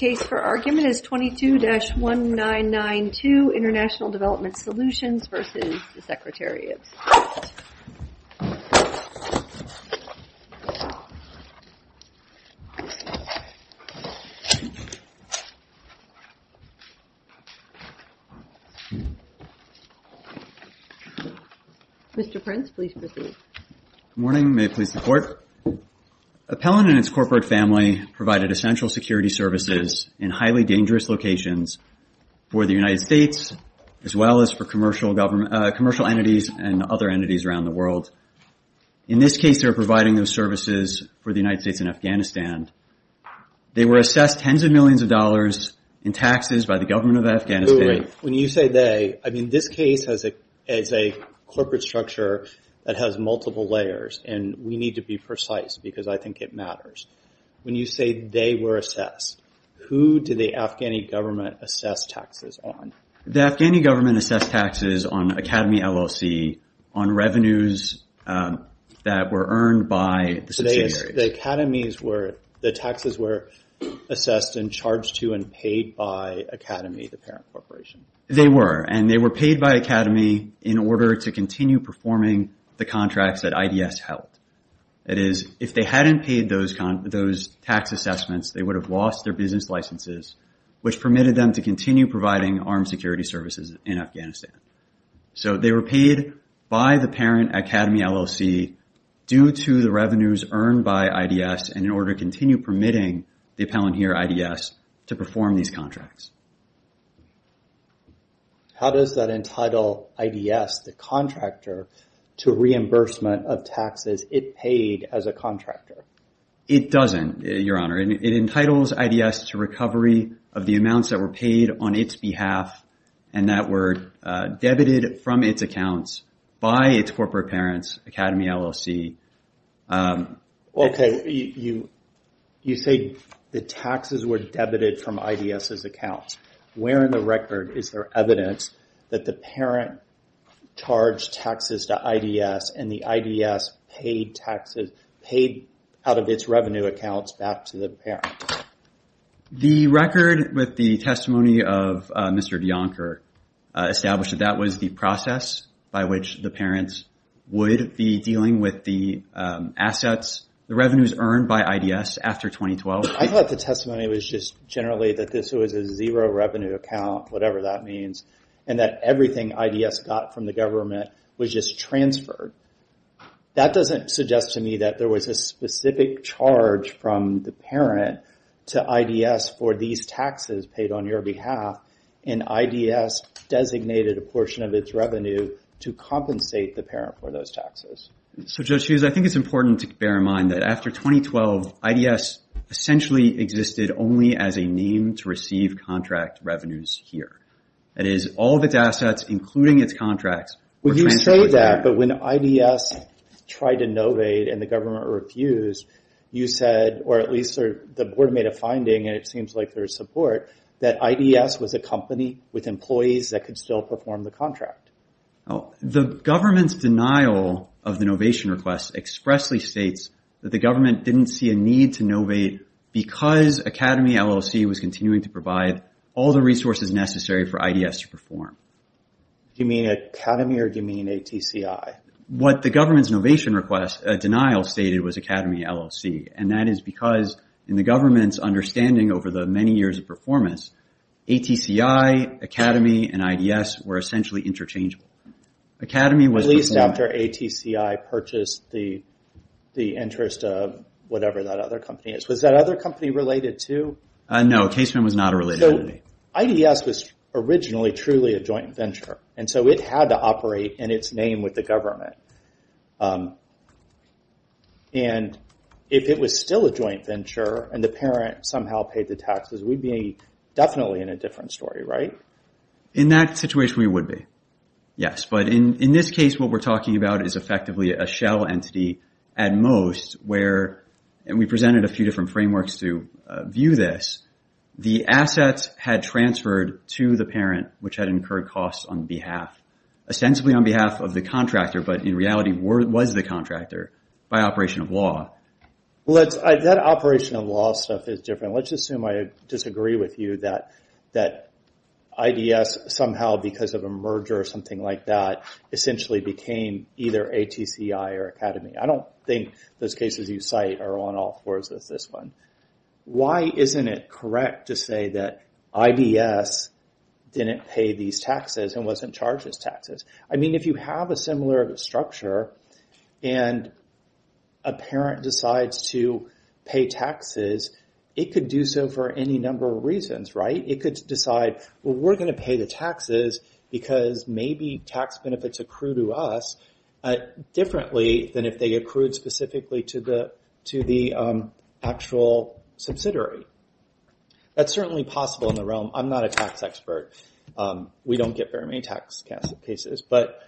The case for argument is 22-1992, International Development Solutions v. Secretary of State. Mr. Prince, please proceed. Good morning. May it please the Court? Appellant and its corporate family provided essential security services in highly dangerous locations for the United States, as well as for commercial entities and other entities around the world. In this case, they were providing those services for the United States and Afghanistan. They were assessed tens of millions of dollars in taxes by the government of Afghanistan. When you say they, I mean this case has a corporate structure that has multiple layers and we need to be precise because I think it matters. When you say they were assessed, who did the Afghani government assess taxes on? The Afghani government assessed taxes on Academy, LLC on revenues that were earned by the subsidiaries. The Academies were, the taxes were assessed and charged to and paid by Academy, the parent corporation. They were and they were paid by Academy in order to continue performing the contracts that IDS held. It is, if they hadn't paid those tax assessments, they would have lost their business licenses which permitted them to continue providing armed security services in Afghanistan. So they were paid by the parent Academy, LLC due to the revenues earned by IDS and in order to continue permitting the appellant here, IDS, to perform these contracts. How does that entitle IDS, the contractor, to reimbursement of taxes it paid as a contractor? It doesn't, your honor. It entitles IDS to recovery of the amounts that were paid on its behalf and that were debited from its accounts by its corporate parents, Academy, LLC. Okay, you say the taxes were debited from IDS's accounts. Where in the record is there evidence that the parent charged taxes to IDS and the IDS paid taxes, paid out of its revenue accounts back to the parent? The record with the testimony of Mr. DeAnker established that that was the process by which the parents would be dealing with the assets, the revenues earned by IDS after 2012. I thought the testimony was just generally that this was a zero revenue account, whatever that means, and that everything IDS got from the government was just transferred. That doesn't suggest to me that there was a specific charge from the parent to IDS for these taxes paid on your behalf and IDS designated a portion of its revenue to compensate the parent for those taxes. So Judge Hughes, I think it's important to bear in mind that after 2012, IDS essentially existed only as a name to receive contract revenues here. That is, all of its assets, including its contracts, were transferred to the parent. Well, you say that, but when IDS tried to novade and the government refused, you said, or at least the board made a finding, and it seems like there's support, that IDS was a company with employees that could still perform the contract. The government's denial of the novation request expressly states that the government didn't see a need to novate because Academy LLC was continuing to provide all the resources necessary for IDS to perform. You mean Academy or do you mean ATCI? What the government's novation request denial stated was Academy LLC, and that is because in the government's understanding over the many years of performance, ATCI, Academy, and IDS were essentially interchangeable. At least after ATCI purchased the interest of whatever that other company is. Was that other company related too? No. Casement was not a related company. IDS was originally truly a joint venture, and so it had to operate in its name with the government. And if it was still a joint venture and the parent somehow paid the taxes, we'd be definitely in a different story, right? In that situation, we would be, yes. But in this case, what we're talking about is effectively a shell entity at most where and we presented a few different frameworks to view this. The assets had transferred to the parent which had incurred costs on behalf, ostensibly on behalf of the contractor, but in reality was the contractor by operation of law. That operation of law stuff is different. Let's assume I disagree with you that IDS somehow because of a merger or something like that essentially became either ATCI or Academy. I don't think those cases you cite are on all fours as this one. Why isn't it correct to say that IDS didn't pay these taxes and wasn't charged these taxes? I mean, if you have a similar structure and a parent decides to pay taxes, it could do so for any number of reasons, right? It could decide, well, we're going to pay the taxes because maybe tax benefits accrue to us differently than if they accrued specifically to the actual subsidiary. That's certainly possible in the realm. I'm not a tax expert. We don't get very many tax cases, but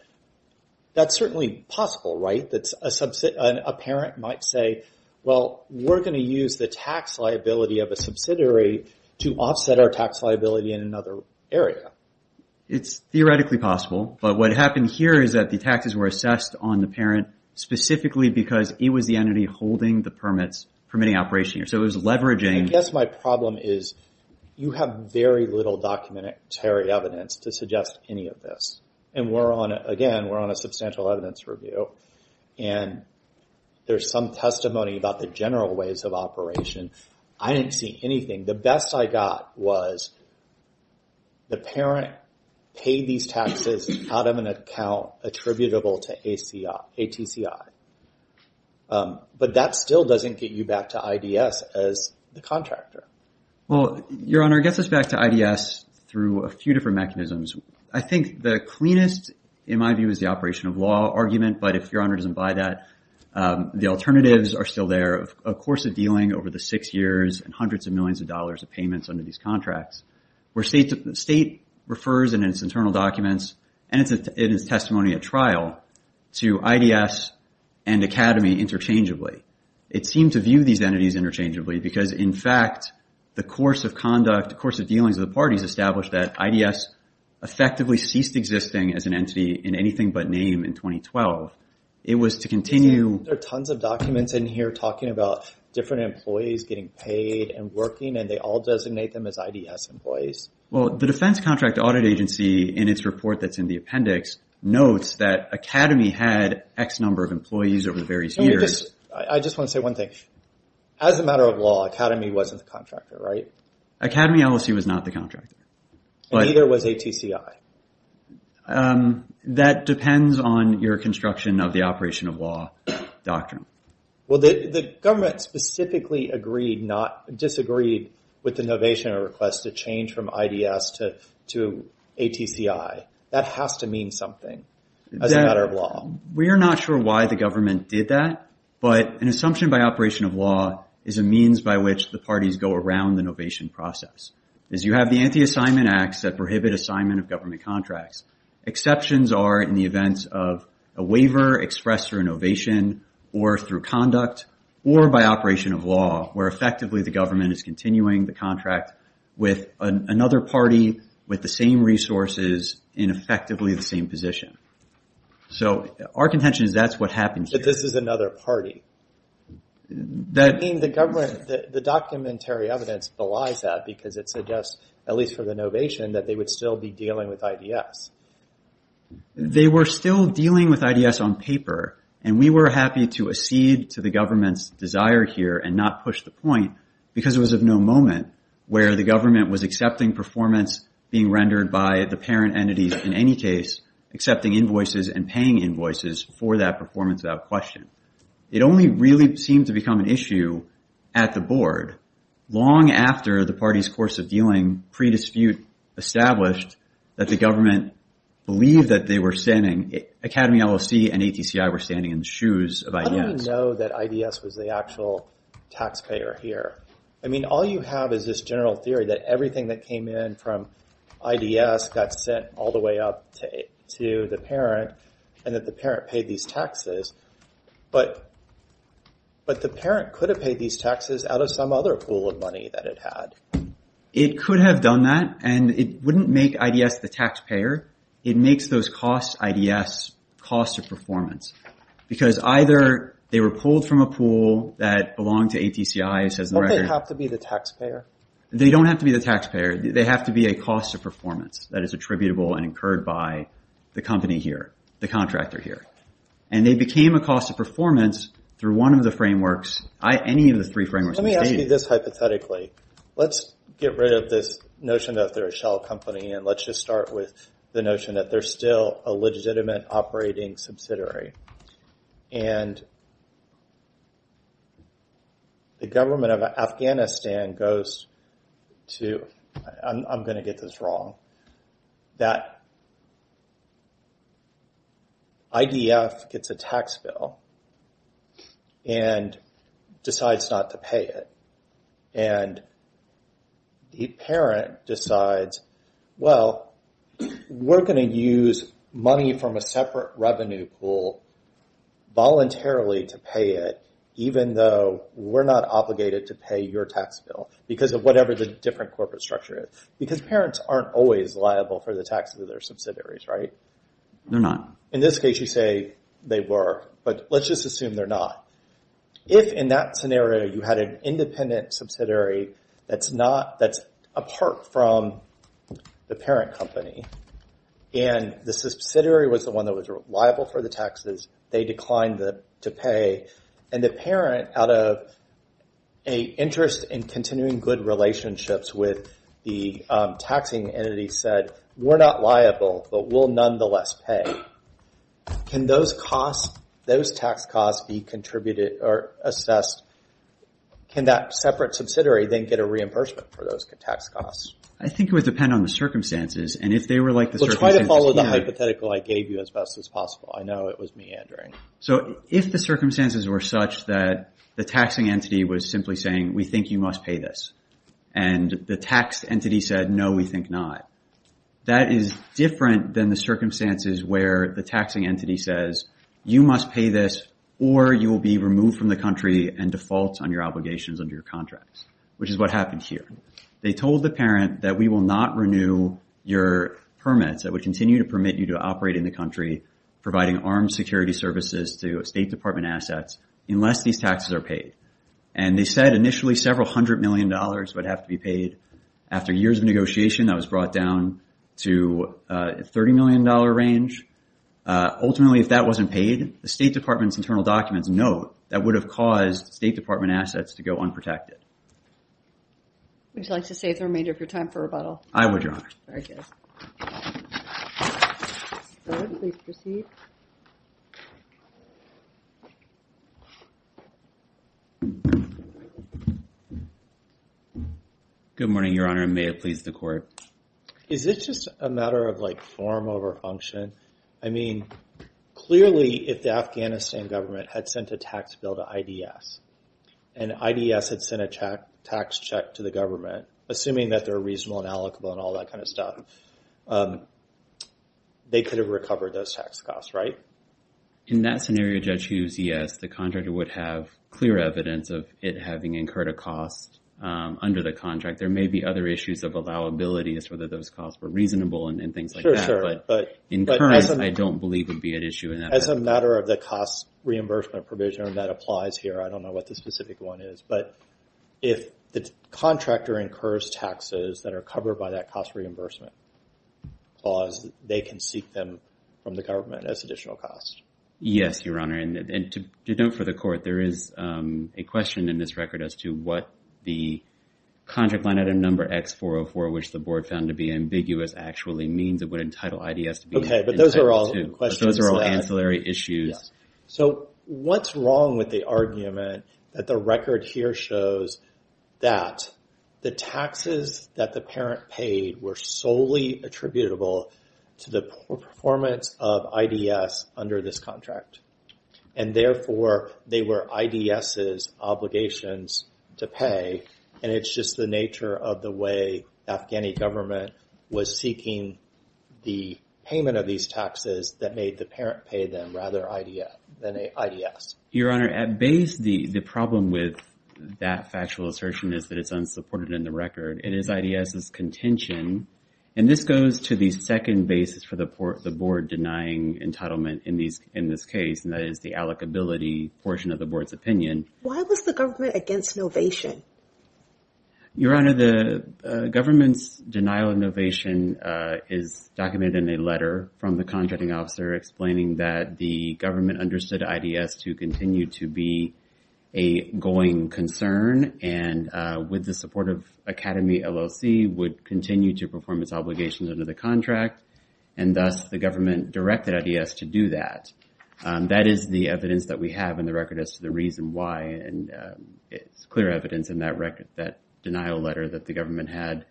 that's certainly possible, right, that a parent might say, well, we're going to use the tax liability of a subsidiary to offset our tax liability in another area. It's theoretically possible, but what happened here is that the taxes were assessed on the parent specifically because it was the entity holding the permits, permitting operation. So it was leveraging. I guess my problem is you have very little documentary evidence to suggest any of this. And again, we're on a substantial evidence review, and there's some testimony about the general ways of operation. I didn't see anything. The best I got was the parent paid these taxes out of an account attributable to ATCI. But that still doesn't get you back to IDS as the contractor. Well, Your Honor, it gets us back to IDS through a few different mechanisms. I think the cleanest, in my view, is the operation of law argument. But if Your Honor doesn't buy that, the alternatives are still there. A course of dealing over the six years and hundreds of millions of dollars of payments under these contracts, where the state refers in its internal documents and its testimony at trial to IDS and Academy interchangeably. It seemed to view these entities interchangeably because, in fact, the course of conduct, course of dealings of the parties established that IDS effectively ceased existing as an entity in anything but name in 2012. It was to continue- I'm talking about different employees getting paid and working, and they all designate them as IDS employees. Well, the defense contract audit agency, in its report that's in the appendix, notes that Academy had X number of employees over the various years. I just want to say one thing. As a matter of law, Academy wasn't the contractor, right? Academy, I will say, was not the contractor. Neither was ATCI. That depends on your construction of the operation of law doctrine. Well, the government specifically disagreed with the innovation request to change from IDS to ATCI. That has to mean something as a matter of law. We are not sure why the government did that, but an assumption by operation of law is a means by which the parties go around the innovation process. As you have the anti-assignment acts that prohibit assignment of government contracts, exceptions are in the events of a waiver expressed through innovation or through conduct or by operation of law, where effectively the government is continuing the contract with another party with the same resources in effectively the same position. Our contention is that's what happened here. This is another party. The documentary evidence belies that because it suggests, at least for the innovation, that they would still be dealing with IDS. They were still dealing with IDS on paper, and we were happy to accede to the government's desire here and not push the point because it was of no moment where the government was accepting performance being rendered by the parent entities in any case, accepting invoices and paying invoices for that performance without question. It only really seemed to become an issue at the board long after the party's course of handling pre-dispute established that the government believed that they were standing, Academy LLC and ATCI were standing in the shoes of IDS. How do we know that IDS was the actual taxpayer here? All you have is this general theory that everything that came in from IDS got sent all the way up to the parent and that the parent paid these taxes, but the parent could have paid these taxes out of some other pool of money that it had. It could have done that, and it wouldn't make IDS the taxpayer. It makes those costs IDS cost of performance because either they were pulled from a pool that belonged to ATCI, it says in the record. Don't they have to be the taxpayer? They don't have to be the taxpayer. They have to be a cost of performance that is attributable and incurred by the company here, the contractor here. And they became a cost of performance through one of the frameworks, any of the three frameworks in the stadium. Maybe this hypothetically, let's get rid of this notion that they're a shell company and let's just start with the notion that they're still a legitimate operating subsidiary. The government of Afghanistan goes to, I'm going to get this wrong, that IDF gets a tax bill and decides not to pay it. And the parent decides, well, we're going to use money from a separate revenue pool voluntarily to pay it even though we're not obligated to pay your tax bill because of whatever the different corporate structure is. Because parents aren't always liable for the taxes of their subsidiaries, right? They're not. In this case, you say they were, but let's just assume they're not. If in that scenario you had an independent subsidiary that's apart from the parent company and the subsidiary was the one that was liable for the taxes, they declined to pay. And the parent, out of an interest in continuing good relationships with the taxing entity said, we're not liable, but we'll nonetheless pay. Can those costs, those tax costs be contributed or assessed? Can that separate subsidiary then get a reimbursement for those tax costs? I think it would depend on the circumstances. And if they were like the circumstances here. Well, try to follow the hypothetical I gave you as best as possible. I know it was meandering. So if the circumstances were such that the taxing entity was simply saying, we think you must pay this. And the tax entity said, no, we think not. That is different than the circumstances where the taxing entity says, you must pay this or you will be removed from the country and default on your obligations under your contracts, which is what happened here. They told the parent that we will not renew your permits that would continue to permit you to operate in the country, providing armed security services to State Department assets unless these taxes are paid. And they said initially several hundred million dollars would have to be paid. After years of negotiation, that was brought down to a $30 million range. Ultimately, if that wasn't paid, the State Department's internal documents note that would have caused State Department assets to go unprotected. Would you like to save the remainder of your time for rebuttal? I would, Your Honor. Very good. Mr. Stodd, please proceed. Good morning, Your Honor, and may it please the Court. Is it just a matter of form over function? I mean, clearly if the Afghanistan government had sent a tax bill to IDS, and IDS had sent a tax check to the government, assuming that they're reasonable and allocable and all that kind of stuff, they could have recovered those tax costs, right? In that scenario, Judge Hughes, yes. The contractor would have clear evidence of it having incurred a cost under the contract. There may be other issues of allowability as to whether those costs were reasonable and things like that. Sure, sure. But in current, I don't believe it would be an issue. As a matter of the cost reimbursement provision, and that applies here, I don't know what the specific one is. But if the contractor incurs taxes that are covered by that cost reimbursement clause, they can seek them from the government as additional costs. Yes, Your Honor, and to note for the Court, there is a question in this record as to what the contract line item number X-404, which the Board found to be ambiguous, actually means it would entitle IDS to be entitled to. Okay, but those are all questions. Those are all ancillary issues. So what's wrong with the argument that the record here shows that the taxes that the parent paid were solely attributable to the performance of IDS under this contract? And therefore, they were IDS's obligations to pay, and it's just the nature of the way the Afghani government was seeking the payment of these taxes that made the parent pay them rather than IDS. Your Honor, at base, the problem with that factual assertion is that it's unsupported in the record. It is IDS's contention, and this goes to the second basis for the Board denying entitlement in this case, and that is the allocability portion of the Board's opinion. Why was the government against novation? Your Honor, the government's denial of novation is documented in a letter from the contracting officer explaining that the government understood IDS to continue to be a going concern, and with the support of Academy LLC, would continue to perform its obligations under the contract, and thus, the government directed IDS to do that. That is the evidence that we have in the record as to the reason why, and it's clear evidence in that denial letter that the government had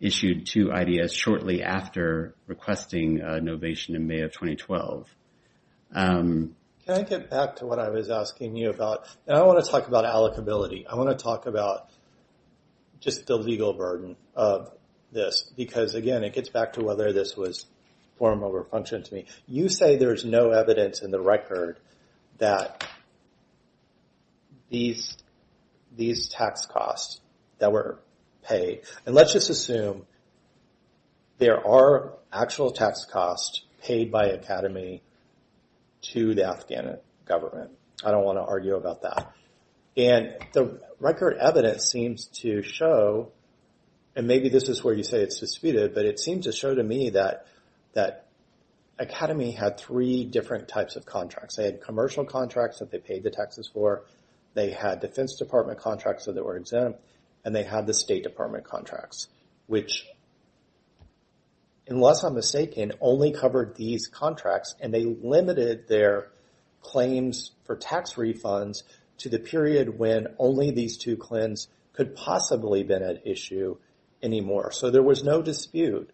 issued to IDS shortly after requesting novation in May of 2012. Can I get back to what I was asking you about? I want to talk about allocability. I want to talk about just the legal burden of this because, again, it gets back to whether this was form or function to me. You say there's no evidence in the record that these tax costs that were paid, and let's just assume there are actual tax costs paid by Academy to the Afghan government. I don't want to argue about that, and the record evidence seems to show, and maybe this is where you say it's disputed, but it seems to show to me that Academy had three different types of contracts. They had commercial contracts that they paid the taxes for, they had Defense Department contracts that were exempt, and they had the State Department contracts, which, unless I'm mistaken, only covered these contracts, and they limited their claims for tax refunds to the period when only these two clans could possibly have been at issue anymore. There was no dispute,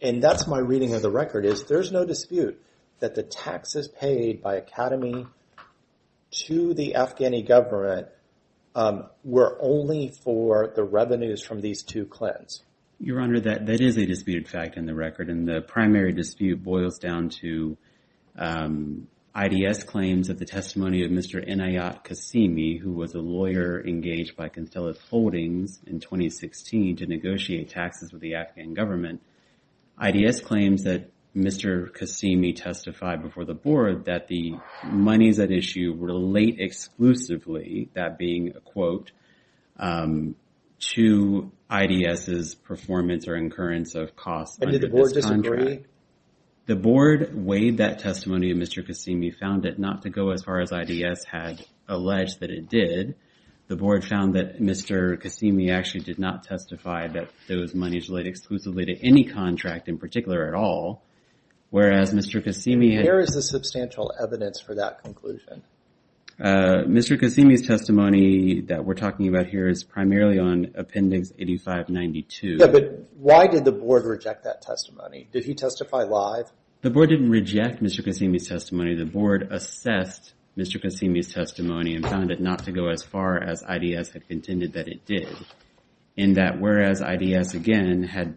and that's my reading of the record, is there's no dispute that the taxes paid by Academy to the Afghan government were only for the revenues from these two clans. Your Honor, that is a disputed fact in the record, and the primary dispute boils down to IDS claims that the testimony of Mr. Inayat Qasimi, who was a lawyer engaged by Constellus Holdings in 2016 to negotiate taxes with the Afghan government, IDS claims that Mr. Qasimi testified before the Board that the monies at issue relate exclusively, that being a quote, to IDS's performance or incurrence of costs under this contract. And did the Board disagree? The Board weighed that testimony, and Mr. Qasimi found it not to go as far as IDS had alleged that it did. The Board found that Mr. Qasimi actually did not testify that those monies relate exclusively to any contract in particular at all, whereas Mr. Qasimi had... Where is the substantial evidence for that conclusion? Mr. Qasimi's testimony that we're talking about here is primarily on Appendix 8592. Yeah, but why did the Board reject that testimony? Did he testify live? The Board didn't reject Mr. Qasimi's testimony. The Board assessed Mr. Qasimi's testimony and found it not to go as far as IDS had contended that it did, and that whereas IDS, again, had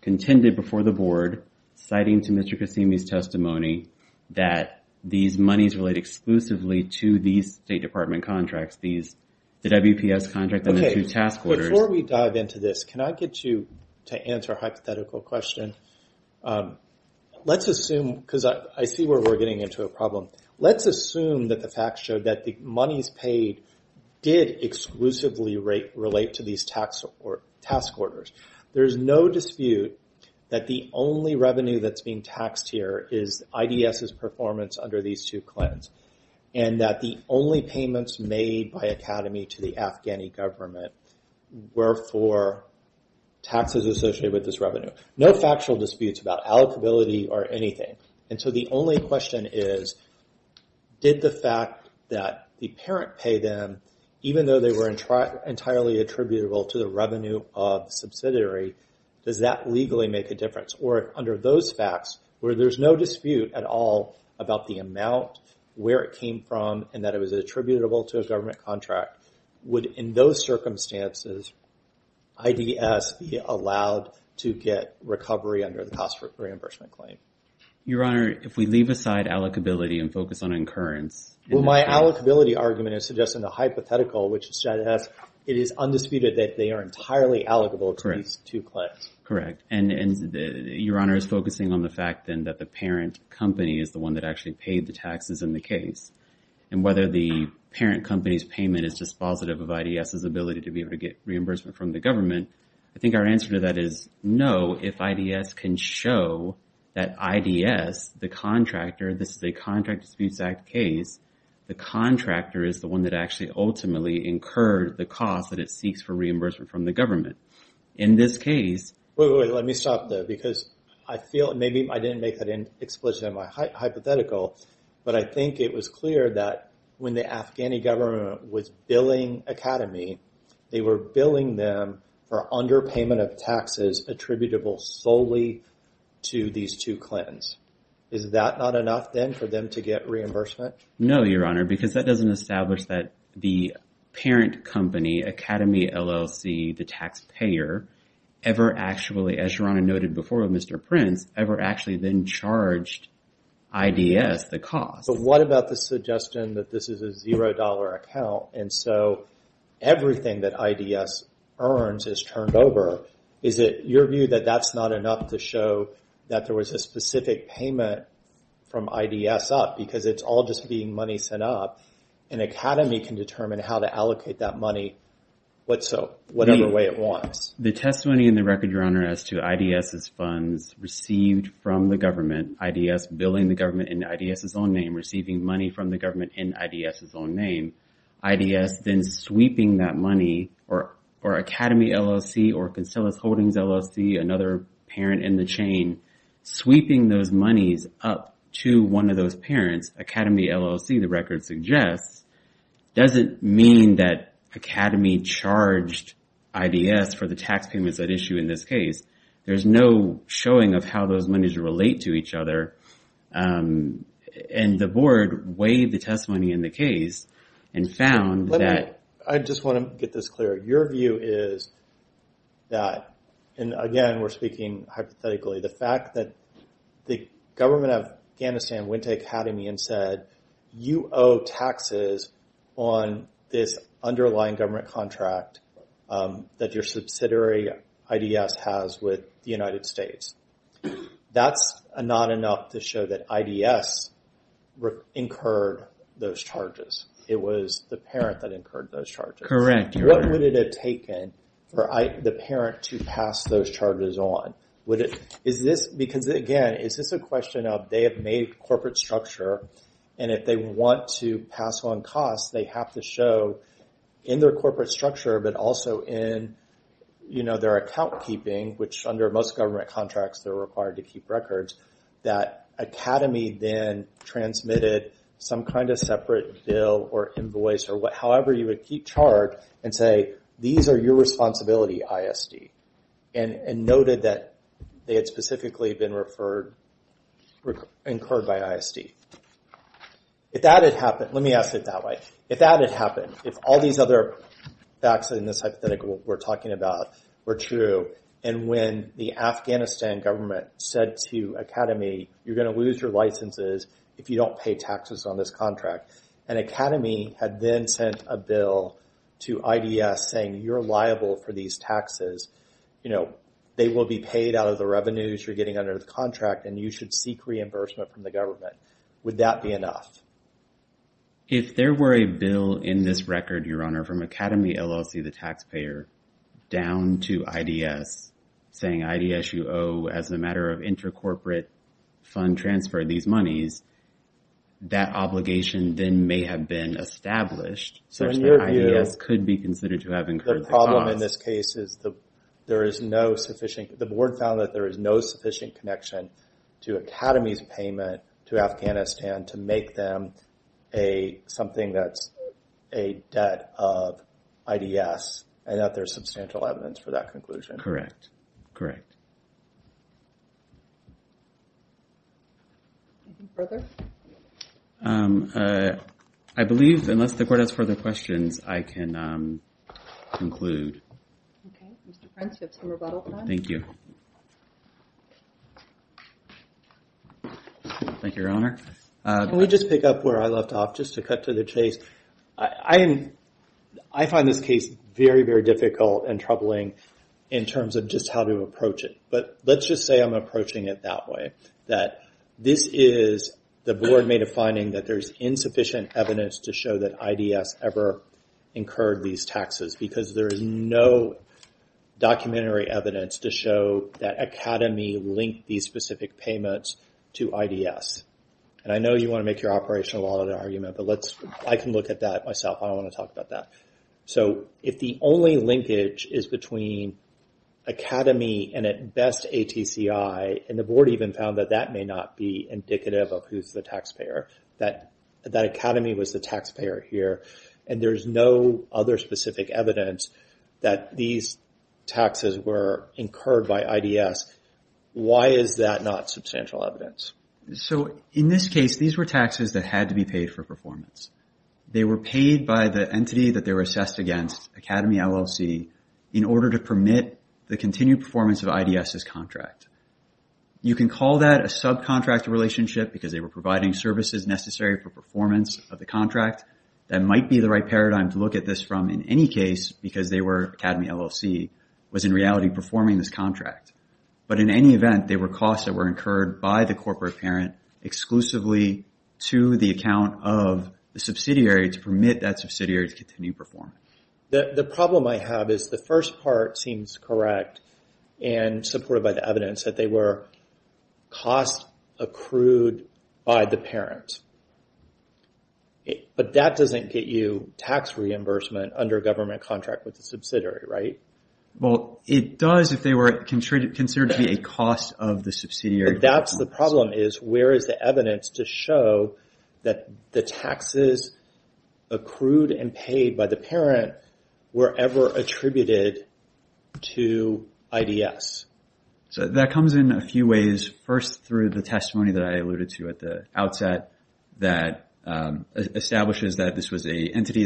contended before the Board, citing to Mr. Qasimi's testimony that these monies relate exclusively to these State Department contracts, these... Did WPS contract them in two task orders? Okay, but before we dive into this, can I get you to answer a hypothetical question? Let's assume, because I see where we're getting into a problem. Let's assume that the facts show that the monies paid did exclusively relate to these task orders. There's no dispute that the only revenue that's being taxed here is IDS's performance under these two claims, and that the only payments made by Academy to the Afghani government were for taxes associated with this revenue. No factual disputes about allocability or anything. And so the only question is, did the fact that the parent paid them, even though they were entirely attributable to the revenue of the subsidiary, does that legally make a difference? Or under those facts, where there's no dispute at all about the amount, where it came from, and that it was attributable to a government contract, would, in those circumstances, IDS be allowed to get recovery under the cost reimbursement claim? Your Honor, if we leave aside allocability and focus on incurrence... Well, my allocability argument is suggesting a hypothetical, which is that it is undisputed that they are entirely allocable to these two claims. Correct. And Your Honor is focusing on the fact, then, that the parent company is the one that actually paid the taxes in the case. And whether the parent company's payment is dispositive of IDS's ability to be able to get reimbursement from the government, I think our answer to that is no, if IDS can show that IDS, the contractor, this is a Contract Disputes Act case, the contractor is the one that actually ultimately incurred the cost that it seeks for reimbursement from the government. In this case... Wait, wait, wait. Let me stop there. Because I feel, maybe I didn't make that explicit in my hypothetical, but I think it was clear that when the Afghani government was billing Academy, they were billing them for underpayment of taxes attributable solely to these two claims. Is that not enough, then, for them to get reimbursement? No, Your Honor, because that doesn't establish that the parent company, Academy LLC, the taxpayer, ever actually, as Your Honor noted before with Mr. Prince, ever actually then charged IDS the cost. But what about the suggestion that this is a $0 account, and so everything that IDS earns is turned over? Is it your view that that's not enough to show that there was a specific payment from IDS up? Because it's all just being money sent up, and Academy can determine how to allocate that money whatsoever, whatever way it wants. The testimony in the record, Your Honor, as to IDS's funds received from the government, IDS billing the government in IDS's own name, receiving money from the government in IDS's own name, IDS then sweeping that money, or Academy LLC or Concelis Holdings LLC, another parent in the chain, sweeping those monies up to one of those parents, Academy LLC, the record suggests, doesn't mean that Academy charged IDS for the tax payments at issue in this case. There's no showing of how those monies relate to each other, and the board weighed the testimony in the case and found that... I just want to get this clear. Your view is that, and again, we're speaking hypothetically, the fact that the government of Afghanistan went to Academy and said, you owe taxes on this underlying government contract that your subsidiary IDS has with the United States. That's not enough to show that IDS incurred those charges. It was the parent that incurred those charges. Correct, Your Honor. What would it have taken for the parent to pass those charges on? Because, again, is this a question of they have made corporate structure, and if they want to pass on costs, they have to show in their corporate structure, but also in their account keeping, which under most government contracts, they're required to keep records, that Academy then transmitted some kind of separate bill or invoice or however you would keep chart and say, these are your responsibility, ISD, and noted that they had specifically been incurred by ISD. If that had happened, let me ask it that way. If that had happened, if all these other facts in this hypothetical we're talking about were true, and when the Afghanistan government said to Academy, you're going to lose your licenses if you don't pay taxes on this contract, and Academy had then sent a bill to IDS saying, you're liable for these taxes, they will be paid out of the revenues you're getting under the contract, and you should seek reimbursement from the government, would that be enough? If there were a bill in this record, Your Honor, from Academy LLC, the taxpayer, down to IDS, saying IDS, you owe as a matter of intercorporate fund transfer these monies, that obligation then may have been established, such that IDS could be considered to have incurred the cost. The problem in this case is the board found that there is no sufficient connection to Academy's payment to Afghanistan to make them something that's a debt of IDS, and that there's no substantial evidence for that conclusion. Correct. Correct. Anything further? I believe, unless the court has further questions, I can conclude. Okay. Mr. Prince, you have some rebuttal time. Thank you. Thank you, Your Honor. Can we just pick up where I left off, just to cut to the chase? I find this case very, very difficult and troubling in terms of just how to approach it, but let's just say I'm approaching it that way, that this is the board made a finding that there's insufficient evidence to show that IDS ever incurred these taxes, because there is no documentary evidence to show that Academy linked these specific payments to IDS. I know you want to make your operational audit argument, but I can look at that myself. I don't want to talk about that. If the only linkage is between Academy and, at best, ATCI, and the board even found that that may not be indicative of who's the taxpayer, that Academy was the taxpayer here, and there's no other specific evidence that these taxes were incurred by IDS, why is that not substantial evidence? In this case, these were taxes that had to be paid for performance. They were paid by the entity that they were assessed against, Academy LLC, in order to permit the continued performance of IDS's contract. You can call that a subcontract relationship, because they were providing services necessary for performance of the contract. That might be the right paradigm to look at this from in any case, because Academy LLC was in reality performing this contract. In any event, they were costs that were incurred by the corporate parent exclusively to the account of the subsidiary to permit that subsidiary to continue performing. The problem I have is the first part seems correct and supported by the evidence that they were costs accrued by the parent, but that doesn't get you tax reimbursement under a government contract with the subsidiary, right? Well, it does if they were considered to be a cost of the subsidiary. That's the problem, is where is the evidence to show that the taxes accrued and paid by the parent were ever attributed to IDS? That comes in a few ways. First, through the testimony that I alluded to at the outset that establishes that this was an entity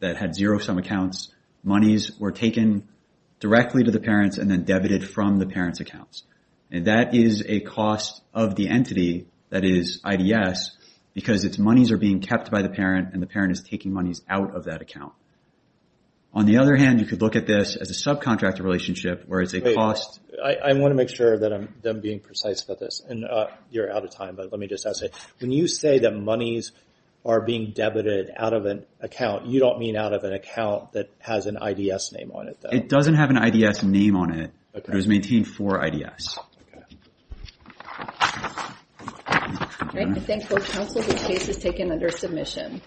that had zero-sum accounts. Monies were taken directly to the parents and then debited from the parents' accounts. That is a cost of the entity that is IDS, because its monies are being kept by the parent and the parent is taking monies out of that account. On the other hand, you could look at this as a subcontractor relationship where it's a cost... Wait, I want to make sure that I'm being precise about this. You're out of time, but let me just ask it. When you say that monies are being debited out of an account, you don't mean out of an account that has an IDS name on it, though. It doesn't have an IDS name on it, but it was maintained for IDS. Okay. I thank both counsel. The case is taken under submission.